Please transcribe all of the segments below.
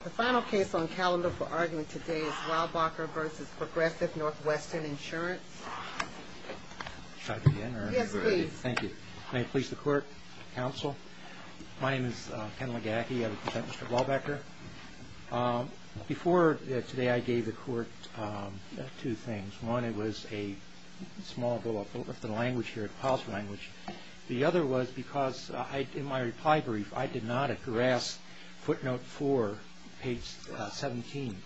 The final case on calendar for argument today is Weilbacher v. Progressive Northwestern Insurance. May I try that again? Yes, please. Thank you. May it please the court, counsel? My name is Ken Legacki. I represent Mr. Wahlbecker. Before today, I gave the court two things. One, it was a small bill of the language here, the house language. The other was because in my reply brief, I did not address footnote 4, page 17,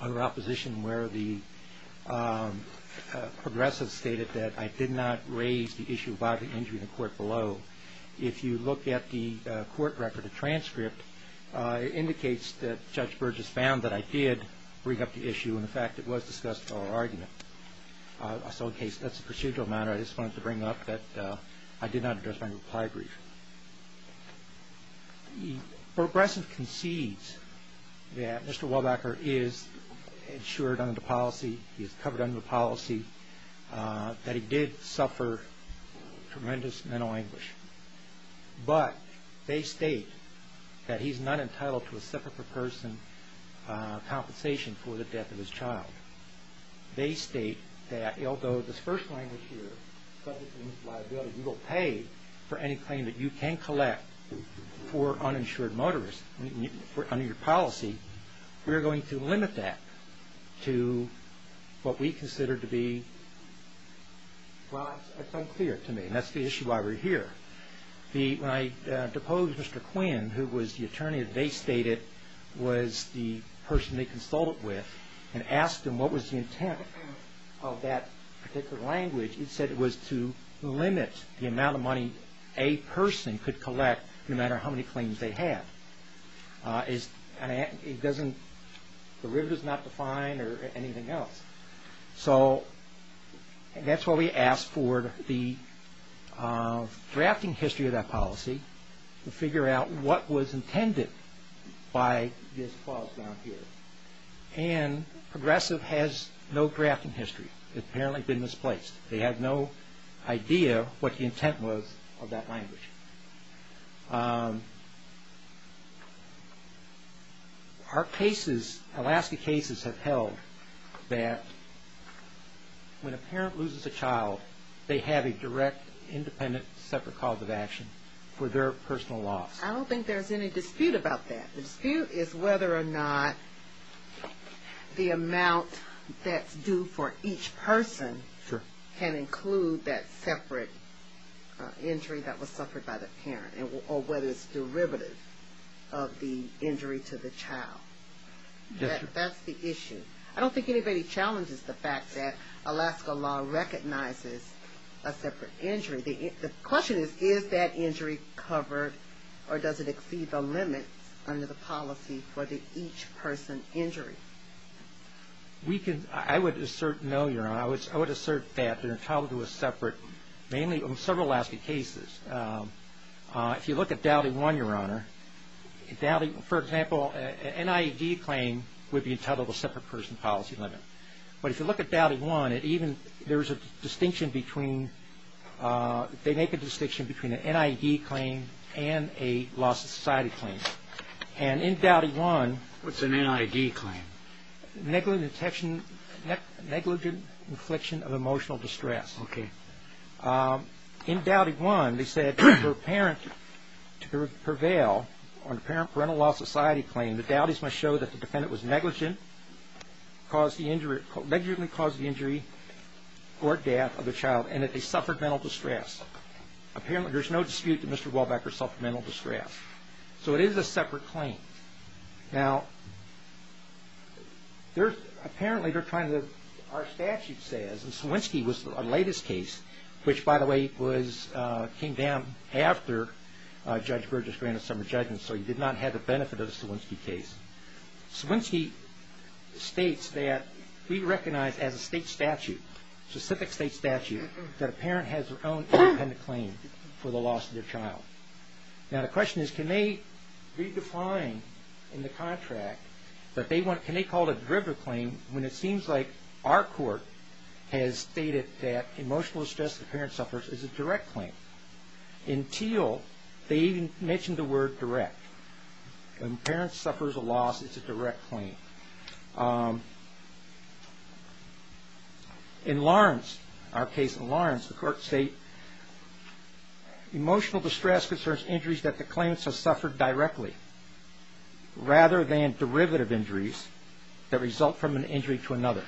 under opposition where the progressive stated that I did not raise the issue about an injury in the court below. If you look at the court record, the transcript, it indicates that Judge Burgess found that I did bring up the issue. In fact, it was discussed in our argument. So in case that's a procedural matter, I just wanted to bring up that I did not address my reply brief. Progressive concedes that Mr. Wahlbecker is insured under the policy, he is covered under the policy, that he did suffer tremendous mental anguish, but they state that he's not entitled to a separate per person compensation for the death of his child. They state that although this first language here, subject to liability, you will pay for any claim that you can collect for uninsured motorists under your policy, we are going to limit that to what we consider to be, well, it's unclear to me, and that's the issue why we're here. When I deposed Mr. Quinn, who was the attorney that they stated was the person they consulted with and asked him what was the intent of that particular language, he said it was to limit the amount of money a person could collect no matter how many claims they had. It doesn't, the river is not defined or anything else. So that's why we asked for the drafting history of that policy, to figure out what was intended by this clause down here. And Progressive has no drafting history. They've apparently been misplaced. They have no idea what the intent was of that language. Our cases, Alaska cases, have held that when a parent loses a child, they have a direct independent separate cause of action for their personal loss. I don't think there's any dispute about that. The dispute is whether or not the amount that's due for each person can include that separate injury that was suffered by the parent or whether it's derivative of the injury to the child. That's the issue. I don't think anybody challenges the fact that Alaska law recognizes a separate injury. The question is, is that injury covered or does it exceed the limit under the policy for the each person injury? We can, I would assert no, Your Honor. I would assert that they're entitled to a separate, mainly in several Alaska cases. If you look at Dowdy 1, Your Honor, Dowdy, for example, an NIAD claim would be entitled to a separate person policy limit. But if you look at Dowdy 1, it even, there's a distinction between, they make a distinction between an NIAD claim and a loss of society claim. And in Dowdy 1. What's an NIAD claim? Negligent infliction of emotional distress. Okay. In Dowdy 1, they said for a parent to prevail on a parent parental loss of society claim, the Dowdy's must show that the defendant was negligent, caused the injury, negligently caused the injury or death of a child, and that they suffered mental distress. Apparently, there's no dispute that Mr. Walbecker suffered mental distress. So it is a separate claim. Now, there's, apparently, they're trying to, our statute says, and Swinsky was the latest case, which, by the way, was, came down after Judge Burgess granted some of the judgments, so he did not have the benefit of the Swinsky case. Swinsky states that we recognize as a state statute, specific state statute, that a parent has their own independent claim for the loss of their child. Now, the question is, can they redefine in the contract that they want, can they call it a derivative claim when it seems like our court has stated that emotional distress that a parent suffers is a direct claim? In Thiel, they even mention the word direct. When a parent suffers a loss, it's a direct claim. In Lawrence, our case in Lawrence, the court states, emotional distress concerns injuries that the claimant has suffered directly, rather than derivative injuries that result from an injury to another.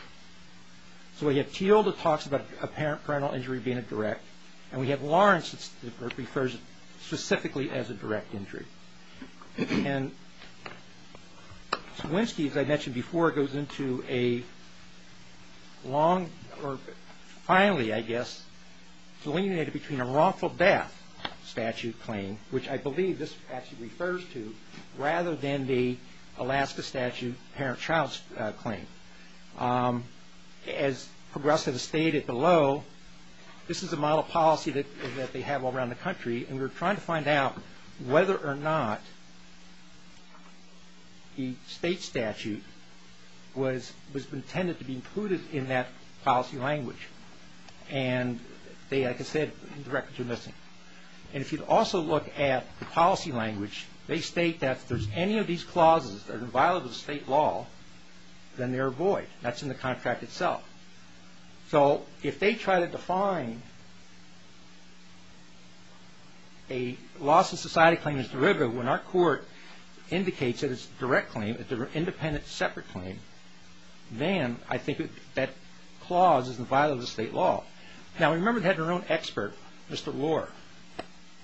So we have Thiel that talks about a parental injury being a direct, and we have Lawrence that refers specifically as a direct injury. And Swinsky, as I mentioned before, goes into a long, or finally, I guess, delineated between a wrongful death statute claim, which I believe this actually refers to, as Progressives stated below, this is a model policy that they have all around the country, and we're trying to find out whether or not the state statute was intended to be included in that policy language. And, like I said, the records are missing. And if you also look at the policy language, they state that if there's any of these clauses that are inviolable to state law, then they're void. That's in the contract itself. So if they try to define a loss of society claim as derivative, when our court indicates that it's a direct claim, an independent separate claim, then I think that clause is inviolable to state law. Now, remember they had their own expert, Mr. Lohr,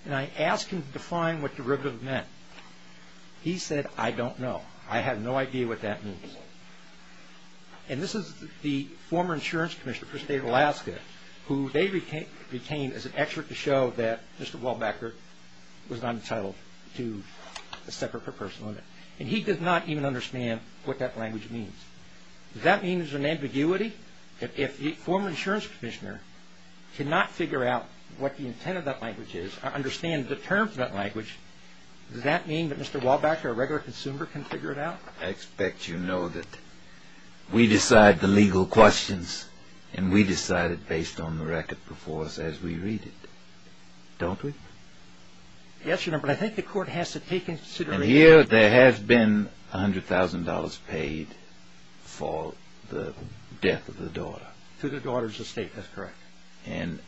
and I asked him to define what derivative meant. He said, I don't know. I have no idea what that means. And this is the former insurance commissioner for the state of Alaska, who they retained as an expert to show that Mr. Wahlbecker was not entitled to a separate per person limit. And he did not even understand what that language means. Does that mean there's an ambiguity? If the former insurance commissioner cannot figure out what the intent of that language is, or understand the terms of that language, does that mean that Mr. Wahlbecker, a regular consumer, can figure it out? I expect you know that we decide the legal questions, and we decide it based on the record before us as we read it. Don't we? Yes, Your Honor, but I think the court has to take into consideration And here there has been $100,000 paid for the death of the daughter. To the daughter's estate, that's correct. And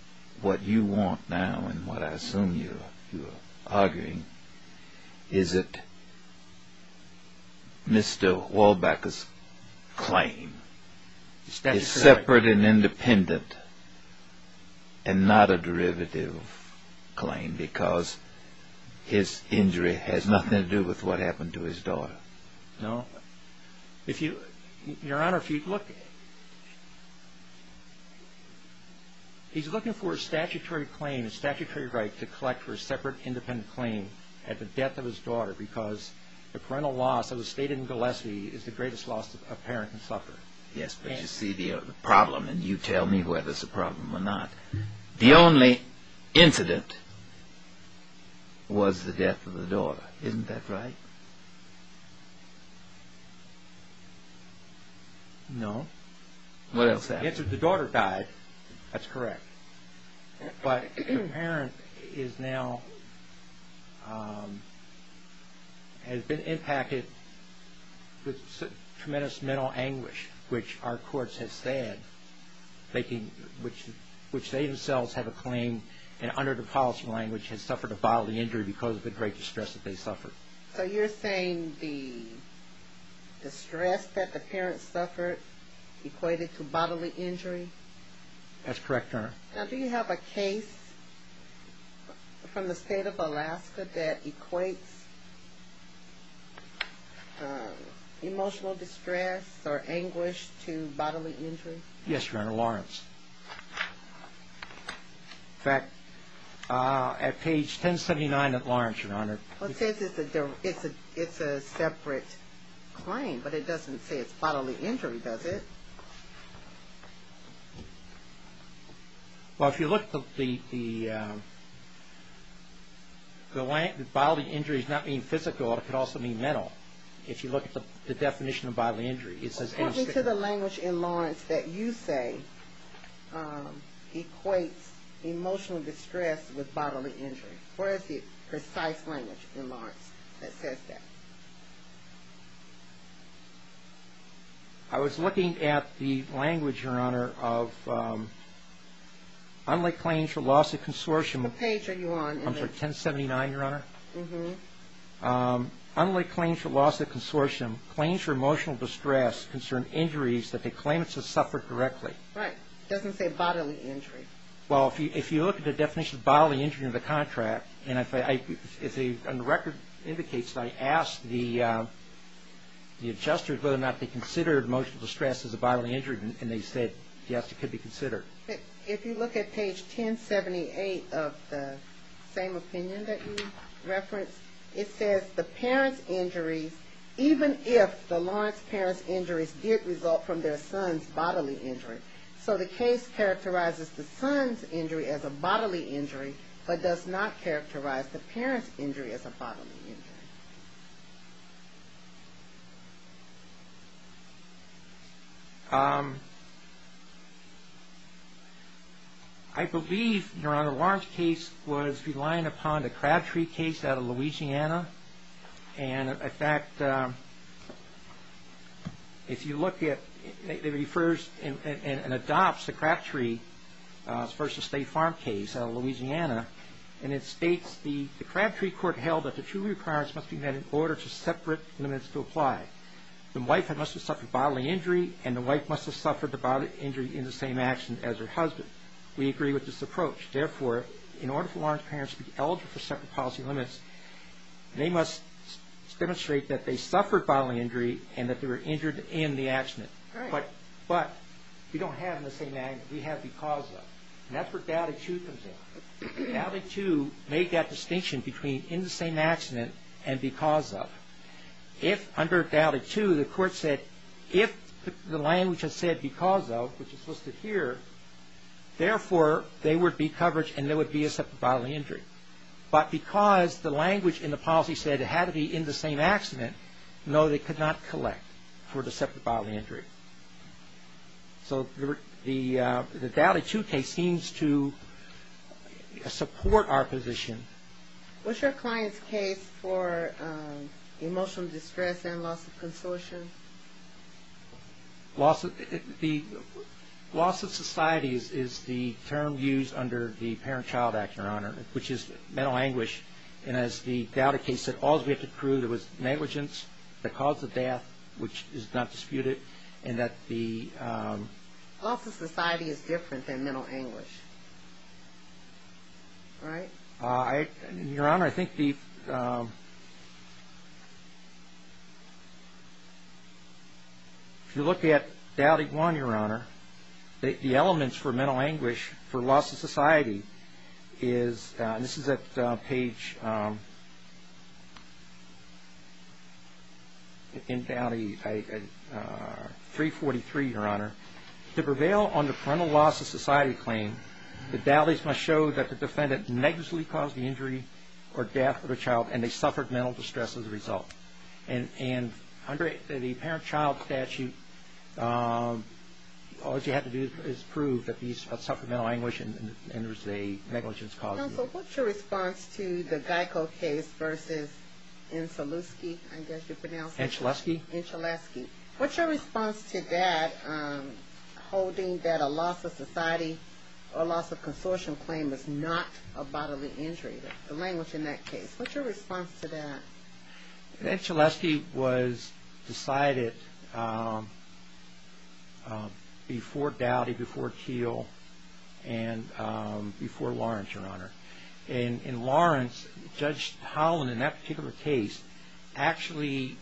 what you want now, and what I assume you are arguing, is that Mr. Wahlbecker's claim is separate and independent, and not a derivative claim because his injury has nothing to do with what happened to his daughter. No. Your Honor, if you look, he's looking for a statutory claim, a statutory right to collect for a separate independent claim at the death of his daughter because the parental loss of the estate in Gillespie is the greatest loss a parent can suffer. Yes, but you see the problem, and you tell me whether it's a problem or not. The only incident was the death of the daughter, isn't that right? No. What else happened? The daughter died, that's correct. But the parent is now, has been impacted with tremendous mental anguish, which our courts have said, which they themselves have a claim, and under the policy language has suffered a bodily injury because of the great distress that they suffered. So you're saying the distress that the parent suffered equated to bodily injury? That's correct, Your Honor. Now, do you have a case from the state of Alaska that equates emotional distress or anguish to bodily injury? Yes, Your Honor, Lawrence. In fact, at page 1079 of Lawrence, Your Honor. It says it's a separate claim, but it doesn't say it's bodily injury, does it? Well, if you look at the, bodily injury is not being physical, it could also mean mental, if you look at the definition of bodily injury. According to the language in Lawrence that you say equates emotional distress with bodily injury. Where is the precise language in Lawrence that says that? I was looking at the language, Your Honor, of unlaid claims for loss of consortium. What page are you on? I'm sorry, 1079, Your Honor. Unlaid claims for loss of consortium, claims for emotional distress, concern injuries that they claim to have suffered directly. Right, it doesn't say bodily injury. Well, if you look at the definition of bodily injury in the contract, and the record indicates that I asked the adjusters whether or not they considered emotional distress as a bodily injury, and they said yes, it could be considered. If you look at page 1078 of the same opinion that you referenced, it says the parents' injuries, even if the Lawrence parents' injuries did result from their son's bodily injury. So the case characterizes the son's injury as a bodily injury, but does not characterize the parents' injury as a bodily injury. I believe, Your Honor, Lawrence case was reliant upon the Crabtree case out of Louisiana. And, in fact, if you look at, it refers and adopts the Crabtree versus State Farm case out of Louisiana, and it states, the Crabtree court held that the two requirements must be met in order for separate limits to apply. The wife must have suffered bodily injury, and the wife must have suffered the bodily injury in the same action as her husband. We agree with this approach. Therefore, in order for Lawrence parents to be eligible for separate policy limits, they must demonstrate that they suffered bodily injury and that they were injured in the accident. But we don't have in the same action, we have because of. And that's where doubted to comes in. Doubted to made that distinction between in the same accident and because of. If under doubted to, the court said, if the language has said because of, which is listed here, therefore, there would be coverage and there would be a separate bodily injury. But because the language in the policy said it had to be in the same accident, no, they could not collect for the separate bodily injury. So the Doubted To case seems to support our position. What's your client's case for emotional distress and loss of consortium? Loss of society is the term used under the Parent-Child Act, Your Honor, which is mental anguish. And as the Doubted To case said, all's we have to prove there was negligence, the cause of death, which is not disputed, and that the ‑‑ Loss of society is different than mental anguish, right? Your Honor, I think the ‑‑ if you look at Dowdy 1, Your Honor, the elements for mental anguish for loss of society is, and this is at page 343, Your Honor, to prevail on the parental loss of society claim, the Dowdy's must show that the defendant negligently caused the injury or death of a child and they suffered mental distress as a result. And under the Parent-Child Statute, all you have to do is prove that these suffered mental anguish and there was a negligence caused. Counsel, what's your response to the Geico case versus Enchileski? I guess you pronounce it. Enchileski. Enchileski. Enchileski. What's your response to that holding that a loss of society or loss of consortium claim is not a bodily injury, the language in that case? What's your response to that? Enchileski was decided before Dowdy, before Keel, and before Lawrence, Your Honor. In Lawrence, Judge Holland in that particular case actually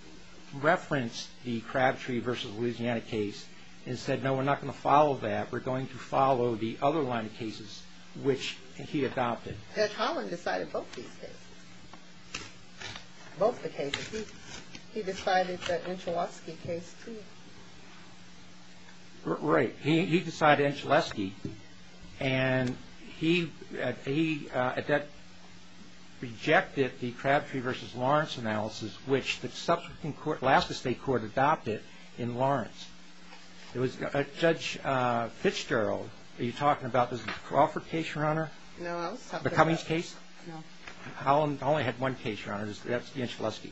referenced the Crabtree versus Louisiana case and said no, we're not going to follow that. We're going to follow the other line of cases which he adopted. Judge Holland decided both these cases, both the cases. He decided the Enchileski case too. Right. He decided Enchileski. And he rejected the Crabtree versus Lawrence analysis which the subsequent Alaska State Court adopted in Lawrence. Judge Fitzgerald, are you talking about the Crawford case, Your Honor? No. The Cummings case? No. Holland only had one case, Your Honor. That's the Enchileski.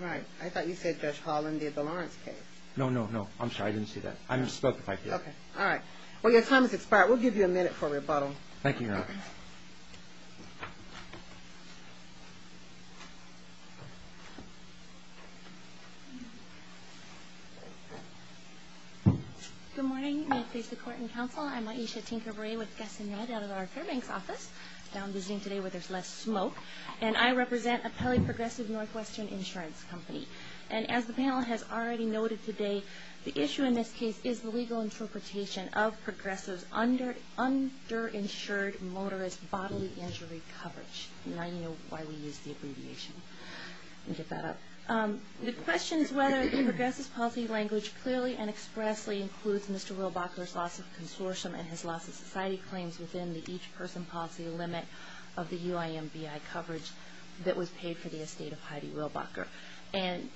Right. I thought you said Judge Holland did the Lawrence case. No, no, no. I'm sorry. I didn't say that. I just spoke if I could. Okay. All right. Well, your time has expired. We'll give you a minute for rebuttal. Thank you, Your Honor. Okay. Good morning. May it please the Court and Counsel. I'm Aisha Tinkerbrae with Gus and Ned out of our Fairbanks office. Now I'm visiting today where there's less smoke. And I represent a polyprogressive Northwestern insurance company. And as the panel has already noted today, the issue in this case is the legal interpretation of progressives' underinsured motorist bodily injury coverage. Now you know why we use the abbreviation. Get that up. The question is whether the progressives' policy language clearly and expressly includes Mr. Willbacher's loss of consortium and his loss of society claims within the each-person policy limit of the UIMBI coverage that was paid for the estate of Heidi Willbacher. And,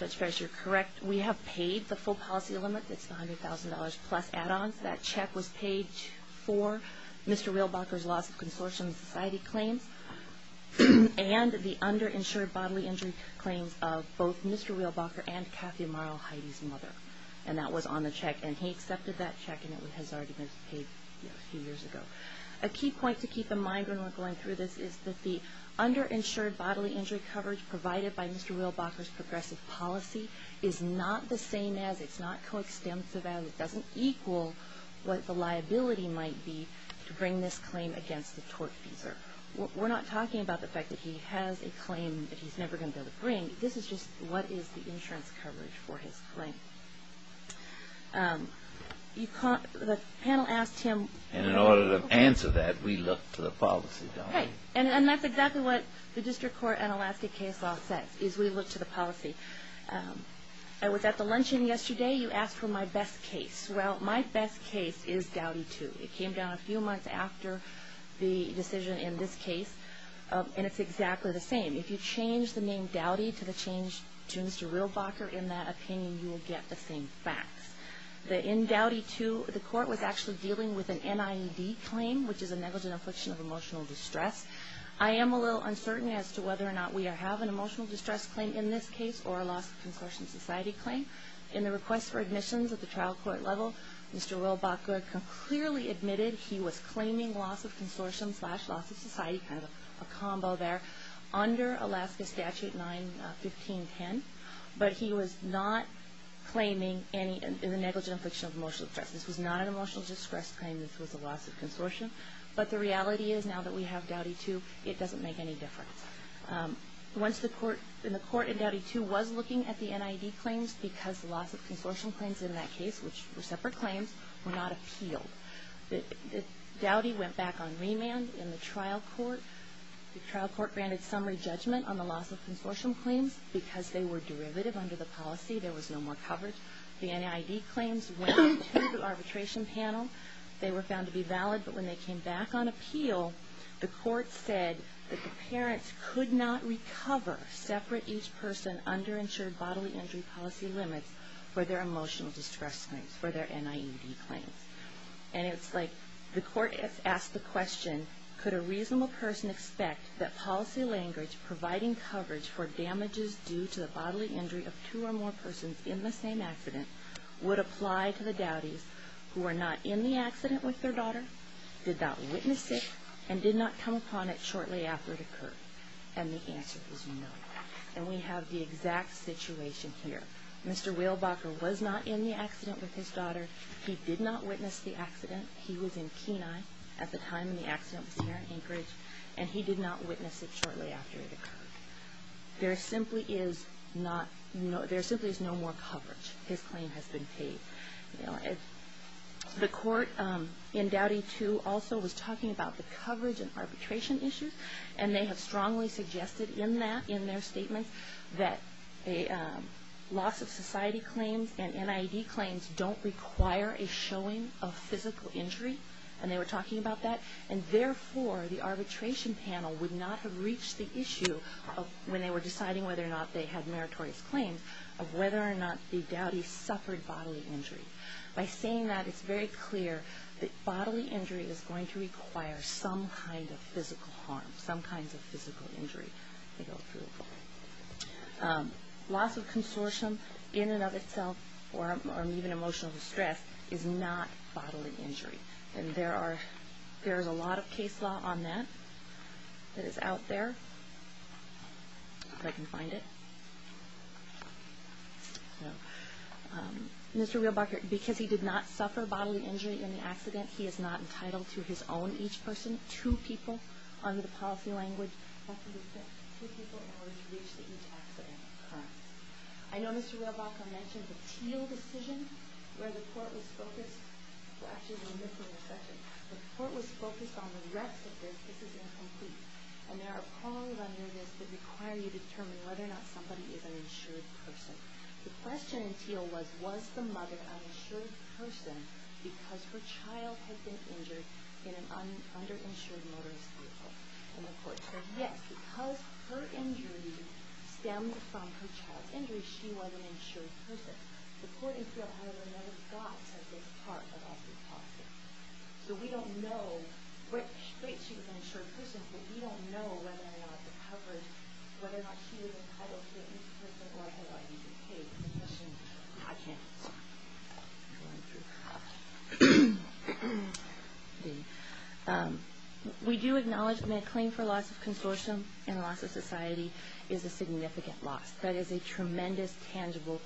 Judge Ferris, you're correct. We have paid the full policy limit. It's $100,000 plus add-ons. That check was paid for Mr. Willbacher's loss of consortium and society claims and the underinsured bodily injury claims of both Mr. Willbacher and Kathy Amaro, Heidi's mother. And that was on the check. And he accepted that check, and it has already been paid a few years ago. A key point to keep in mind when we're going through this is that the Mr. Willbacher's progressive policy is not the same as, it's not coextensive as, it doesn't equal what the liability might be to bring this claim against the tortfeasor. We're not talking about the fact that he has a claim that he's never going to be able to bring. This is just what is the insurance coverage for his claim. The panel asked him. And in order to answer that, we look to the policy document. Okay. And that's exactly what the district court and elastic case law says, is we look to the policy. I was at the luncheon yesterday. You asked for my best case. Well, my best case is Dowdy 2. It came down a few months after the decision in this case, and it's exactly the same. If you change the name Dowdy to Mr. Willbacher, in that opinion, you will get the same facts. In Dowdy 2, the court was actually dealing with an NIED claim, which is a negligent affliction of emotional distress. I am a little uncertain as to whether or not we have an emotional distress claim in this case or a loss of consortium society claim. In the request for admissions at the trial court level, Mr. Willbacher clearly admitted he was claiming loss of consortium slash loss of society, kind of a combo there, under Alaska Statute 91510. But he was not claiming any negligent affliction of emotional distress. This was not an emotional distress claim. This was a loss of consortium. But the reality is now that we have Dowdy 2, it doesn't make any difference. Once the court in Dowdy 2 was looking at the NIED claims, because the loss of consortium claims in that case, which were separate claims, were not appealed, Dowdy went back on remand in the trial court. The trial court granted summary judgment on the loss of consortium claims because they were derivative under the policy. There was no more coverage. The NIED claims went to the arbitration panel. They were found to be valid, but when they came back on appeal, the court said that the parents could not recover separate, each person underinsured bodily injury policy limits for their emotional distress claims, for their NIED claims. And it's like the court has asked the question, could a reasonable person expect that policy language providing coverage for damages due to the bodily injury of two or more persons in the same accident would apply to the Dowdy's who were not in the accident with their daughter, did not witness it, and did not come upon it shortly after it occurred? And the answer is no. And we have the exact situation here. Mr. Wheelbacher was not in the accident with his daughter. He did not witness the accident. He was in Kenai at the time the accident was here in Anchorage, and he did not witness it shortly after it occurred. There simply is no more coverage. His claim has been paid. The court in Dowdy too also was talking about the coverage and arbitration issues, and they have strongly suggested in that, in their statement, that loss of society claims and NIED claims don't require a showing of physical injury. And they were talking about that. And therefore, the arbitration panel would not have reached the issue when they were deciding whether or not they had meritorious claims, of whether or not the Dowdy suffered bodily injury. By saying that, it's very clear that bodily injury is going to require some kind of physical harm, some kind of physical injury. Loss of consortium in and of itself, or even emotional distress, is not bodily injury. And there is a lot of case law on that that is out there. If I can find it. Mr. Rehlbacher, because he did not suffer bodily injury in the accident, he is not entitled to his own, each person, two people under the policy language. That would be two people in order to reach the each accident. I know Mr. Rehlbacher mentioned the Teal decision, where the court was focused. Well, actually, we're missing a section. The court was focused on the rest of this. This is incomplete. And there are prongs under this that require you to determine whether or not somebody is an insured person. The question in Teal was, was the mother an insured person because her child had been injured in an underinsured motorist vehicle? And the court said, yes, because her injury stemmed from her child's injury, she was an insured person. The court in Teal, however, never got to this part of the policy. So we don't know what state she was an insured person, but we don't know whether or not the coverage, whether or not she was entitled to the each person, or whether or not you could take the position. I can't answer that. We do acknowledge, I mean, a claim for loss of consortium and loss of society is a significant loss. That is a tremendous, tangible,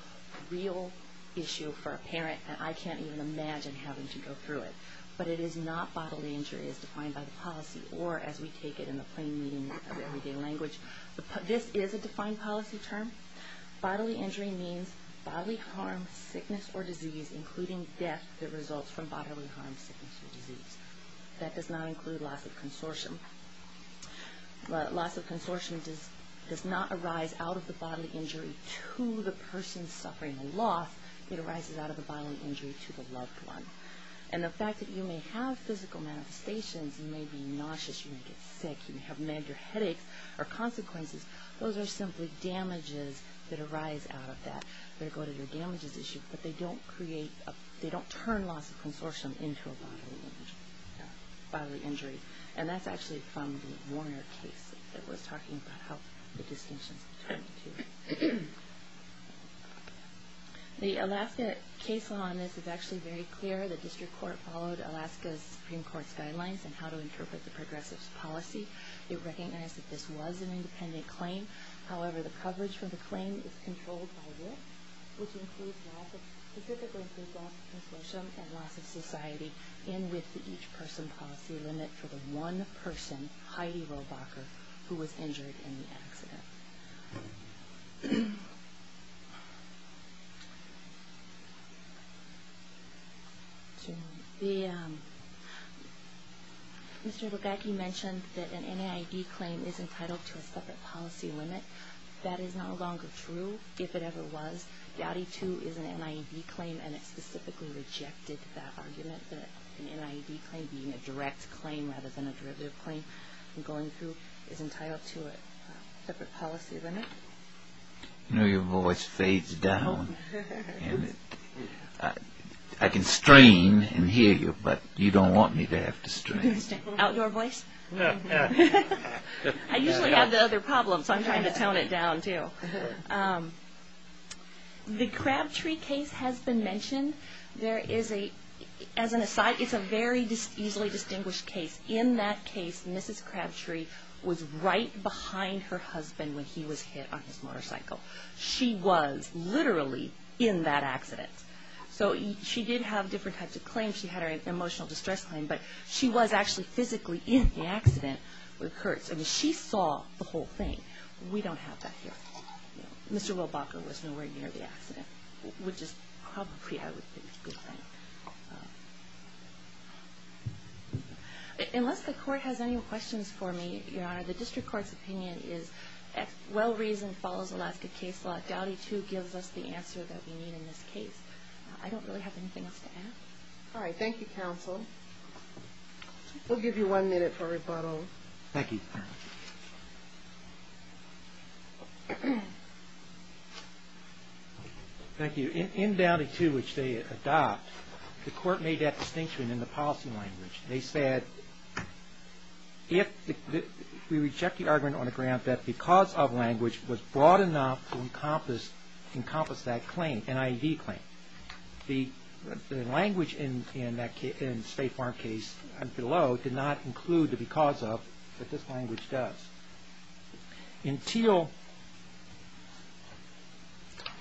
real issue for a parent, and I can't even imagine having to go through it. But it is not bodily injury as defined by the policy, or as we take it in the plain meaning of everyday language. This is a defined policy term. Bodily injury means bodily harm, sickness, or disease, including death that results from bodily harm, sickness, or disease. That does not include loss of consortium. Loss of consortium does not arise out of the bodily injury to the person suffering the loss. It arises out of the bodily injury to the loved one. And the fact that you may have physical manifestations, you may be nauseous, you may get sick, you may have meds or headaches or consequences, those are simply damages that arise out of that. They go to your damages issue, but they don't create, they don't turn loss of consortium into a bodily injury. And that's actually from the Warner case. It was talking about how the distinctions between the two. The Alaska case law on this is actually very clear. The district court followed Alaska's Supreme Court's guidelines on how to interpret the progressive's policy. It recognized that this was an independent claim. However, the coverage for the claim is controlled by will, which includes loss of, specifically includes loss of consortium and loss of society, and with the each-person policy limit for the one person, Heidi Rohbacher, who was injured in the accident. Mr. Bugaki mentioned that an NIAID claim is entitled to a separate policy limit. That is no longer true, if it ever was. The Audi II is an NIAID claim, and it specifically rejected that argument, that an NIAID claim being a direct claim rather than a derivative claim, and going through is entitled to a separate policy limit. You know, your voice fades down. I can strain and hear you, but you don't want me to have to strain. Outdoor voice? I usually have the other problems, so I'm trying to tone it down, too. The Crabtree case has been mentioned. There is a, as an aside, it's a very easily distinguished case. In that case, Mrs. Crabtree was right behind her husband when he was hit on his motorcycle. She was literally in that accident. So, she did have different types of claims. She had her emotional distress claim, but she was actually physically in the accident with Kurtz. I mean, she saw the whole thing. We don't have that here. Mr. Wilbacher was nowhere near the accident, which is probably, I would think, a good thing. Unless the Court has any questions for me, Your Honor, the District Court's opinion is well-reasoned, follows Alaska case law. The Audi II gives us the answer that we need in this case. I don't really have anything else to add. All right, thank you, counsel. We'll give you one minute for rebuttal. Thank you. Thank you. In Audi II, which they adopt, the Court made that distinction in the policy language. They said, we reject the argument on the ground that because of language was broad enough to encompass that claim, an IED claim. The language in the State Farm case below did not include the because of that this language does. In the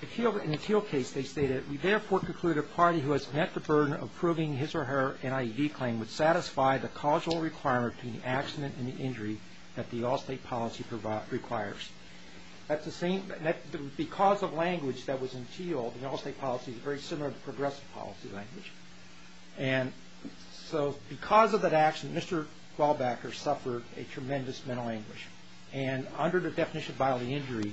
Thiel case, they stated, we therefore conclude a party who has met the burden of proving his or her IED claim would satisfy the causal requirement between the accident and the injury that the Allstate policy requires. That's the same, because of language that was in Thiel, the Allstate policy is very similar to progressive policy language. And so because of that accident, Mr. Glaubacher suffered a tremendous mental anguish. And under the definition of bodily injury,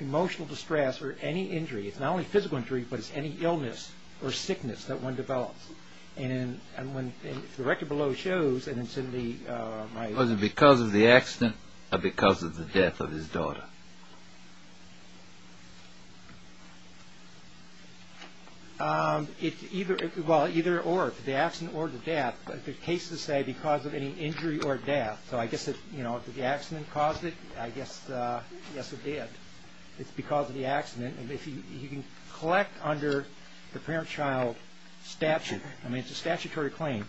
emotional distress or any injury, it's not only physical injury, but it's any illness or sickness that one develops. And when the record below shows, and it's in the... Was it because of the accident or because of the death of his daughter? Well, either or, the accident or the death. But the cases say because of any injury or death. So I guess if the accident caused it, I guess it did. It's because of the accident. And if you can collect under the parent-child statute, I mean, it's a statutory claim,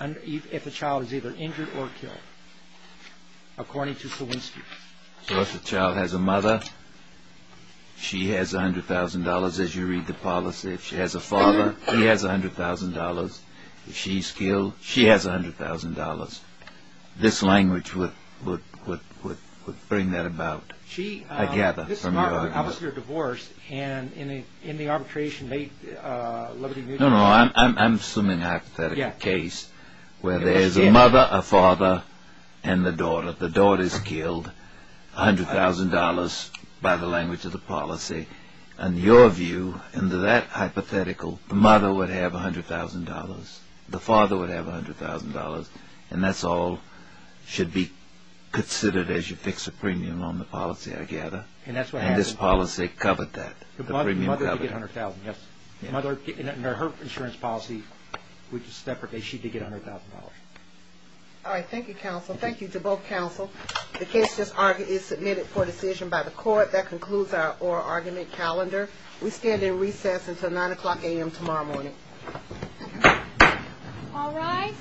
if a child is either injured or killed, according to Kowinski. So if a child has a mother, she has $100,000, as you read the policy. If she has a father, he has $100,000. If she's killed, she has $100,000. This language would bring that about, I gather, from your argument. This is obviously a divorce, and in the arbitration made, Liberty Mutual... No, no, I'm assuming a hypothetical case where there's a mother, a father, and the daughter. The daughter is killed, $100,000, by the language of the policy. In your view, in that hypothetical, the mother would have $100,000. The father would have $100,000. And that's all should be considered as you fix a premium on the policy, I gather. And this policy covered that. The mother could get $100,000, yes. Her insurance policy, which is separate, she could get $100,000. All right, thank you, counsel. Thank you to both counsel. The case is submitted for decision by the court. That concludes our oral argument calendar. We stand in recess until 9 o'clock a.m. tomorrow morning. All rise.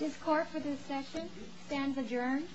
This court for this session stands adjourned. Thank you. Thank you. Thank you. Are you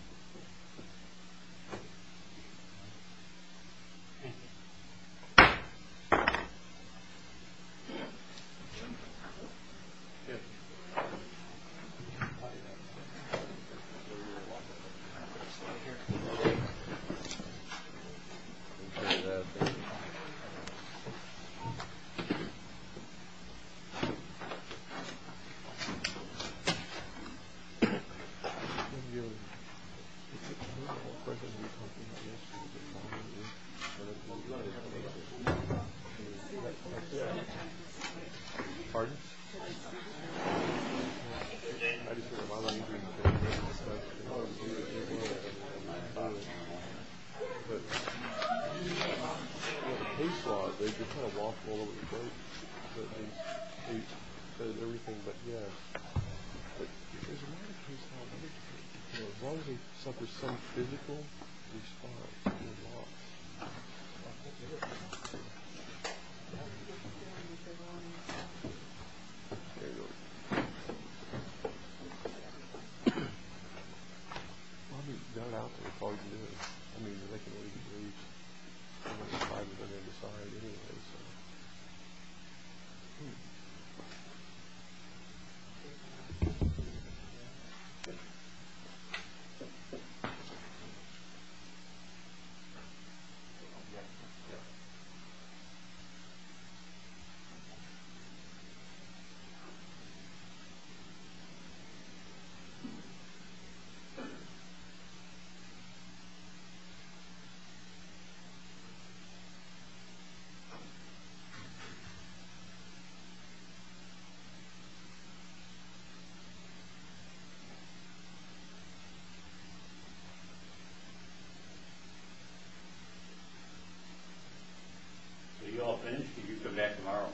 all finished? You can come back tomorrow. I am finished.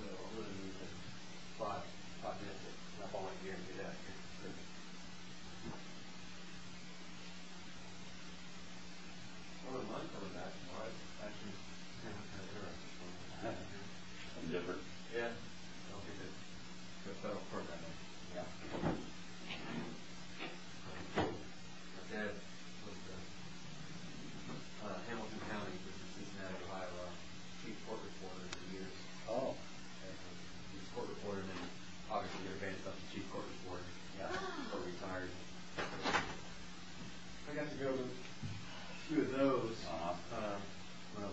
So, who did we get? Five. Five minutes. That's all I can guarantee that. Thank you. I don't mind coming back. All right. Thank you. I'm different. Yeah. Okay, good. You're a federal court member. Yeah. Thank you. Hamilton County. Chief court reporter. Oh. Obviously, you're based off the chief court reporter. Yeah. I got to go through those when I was a kid. Thank you.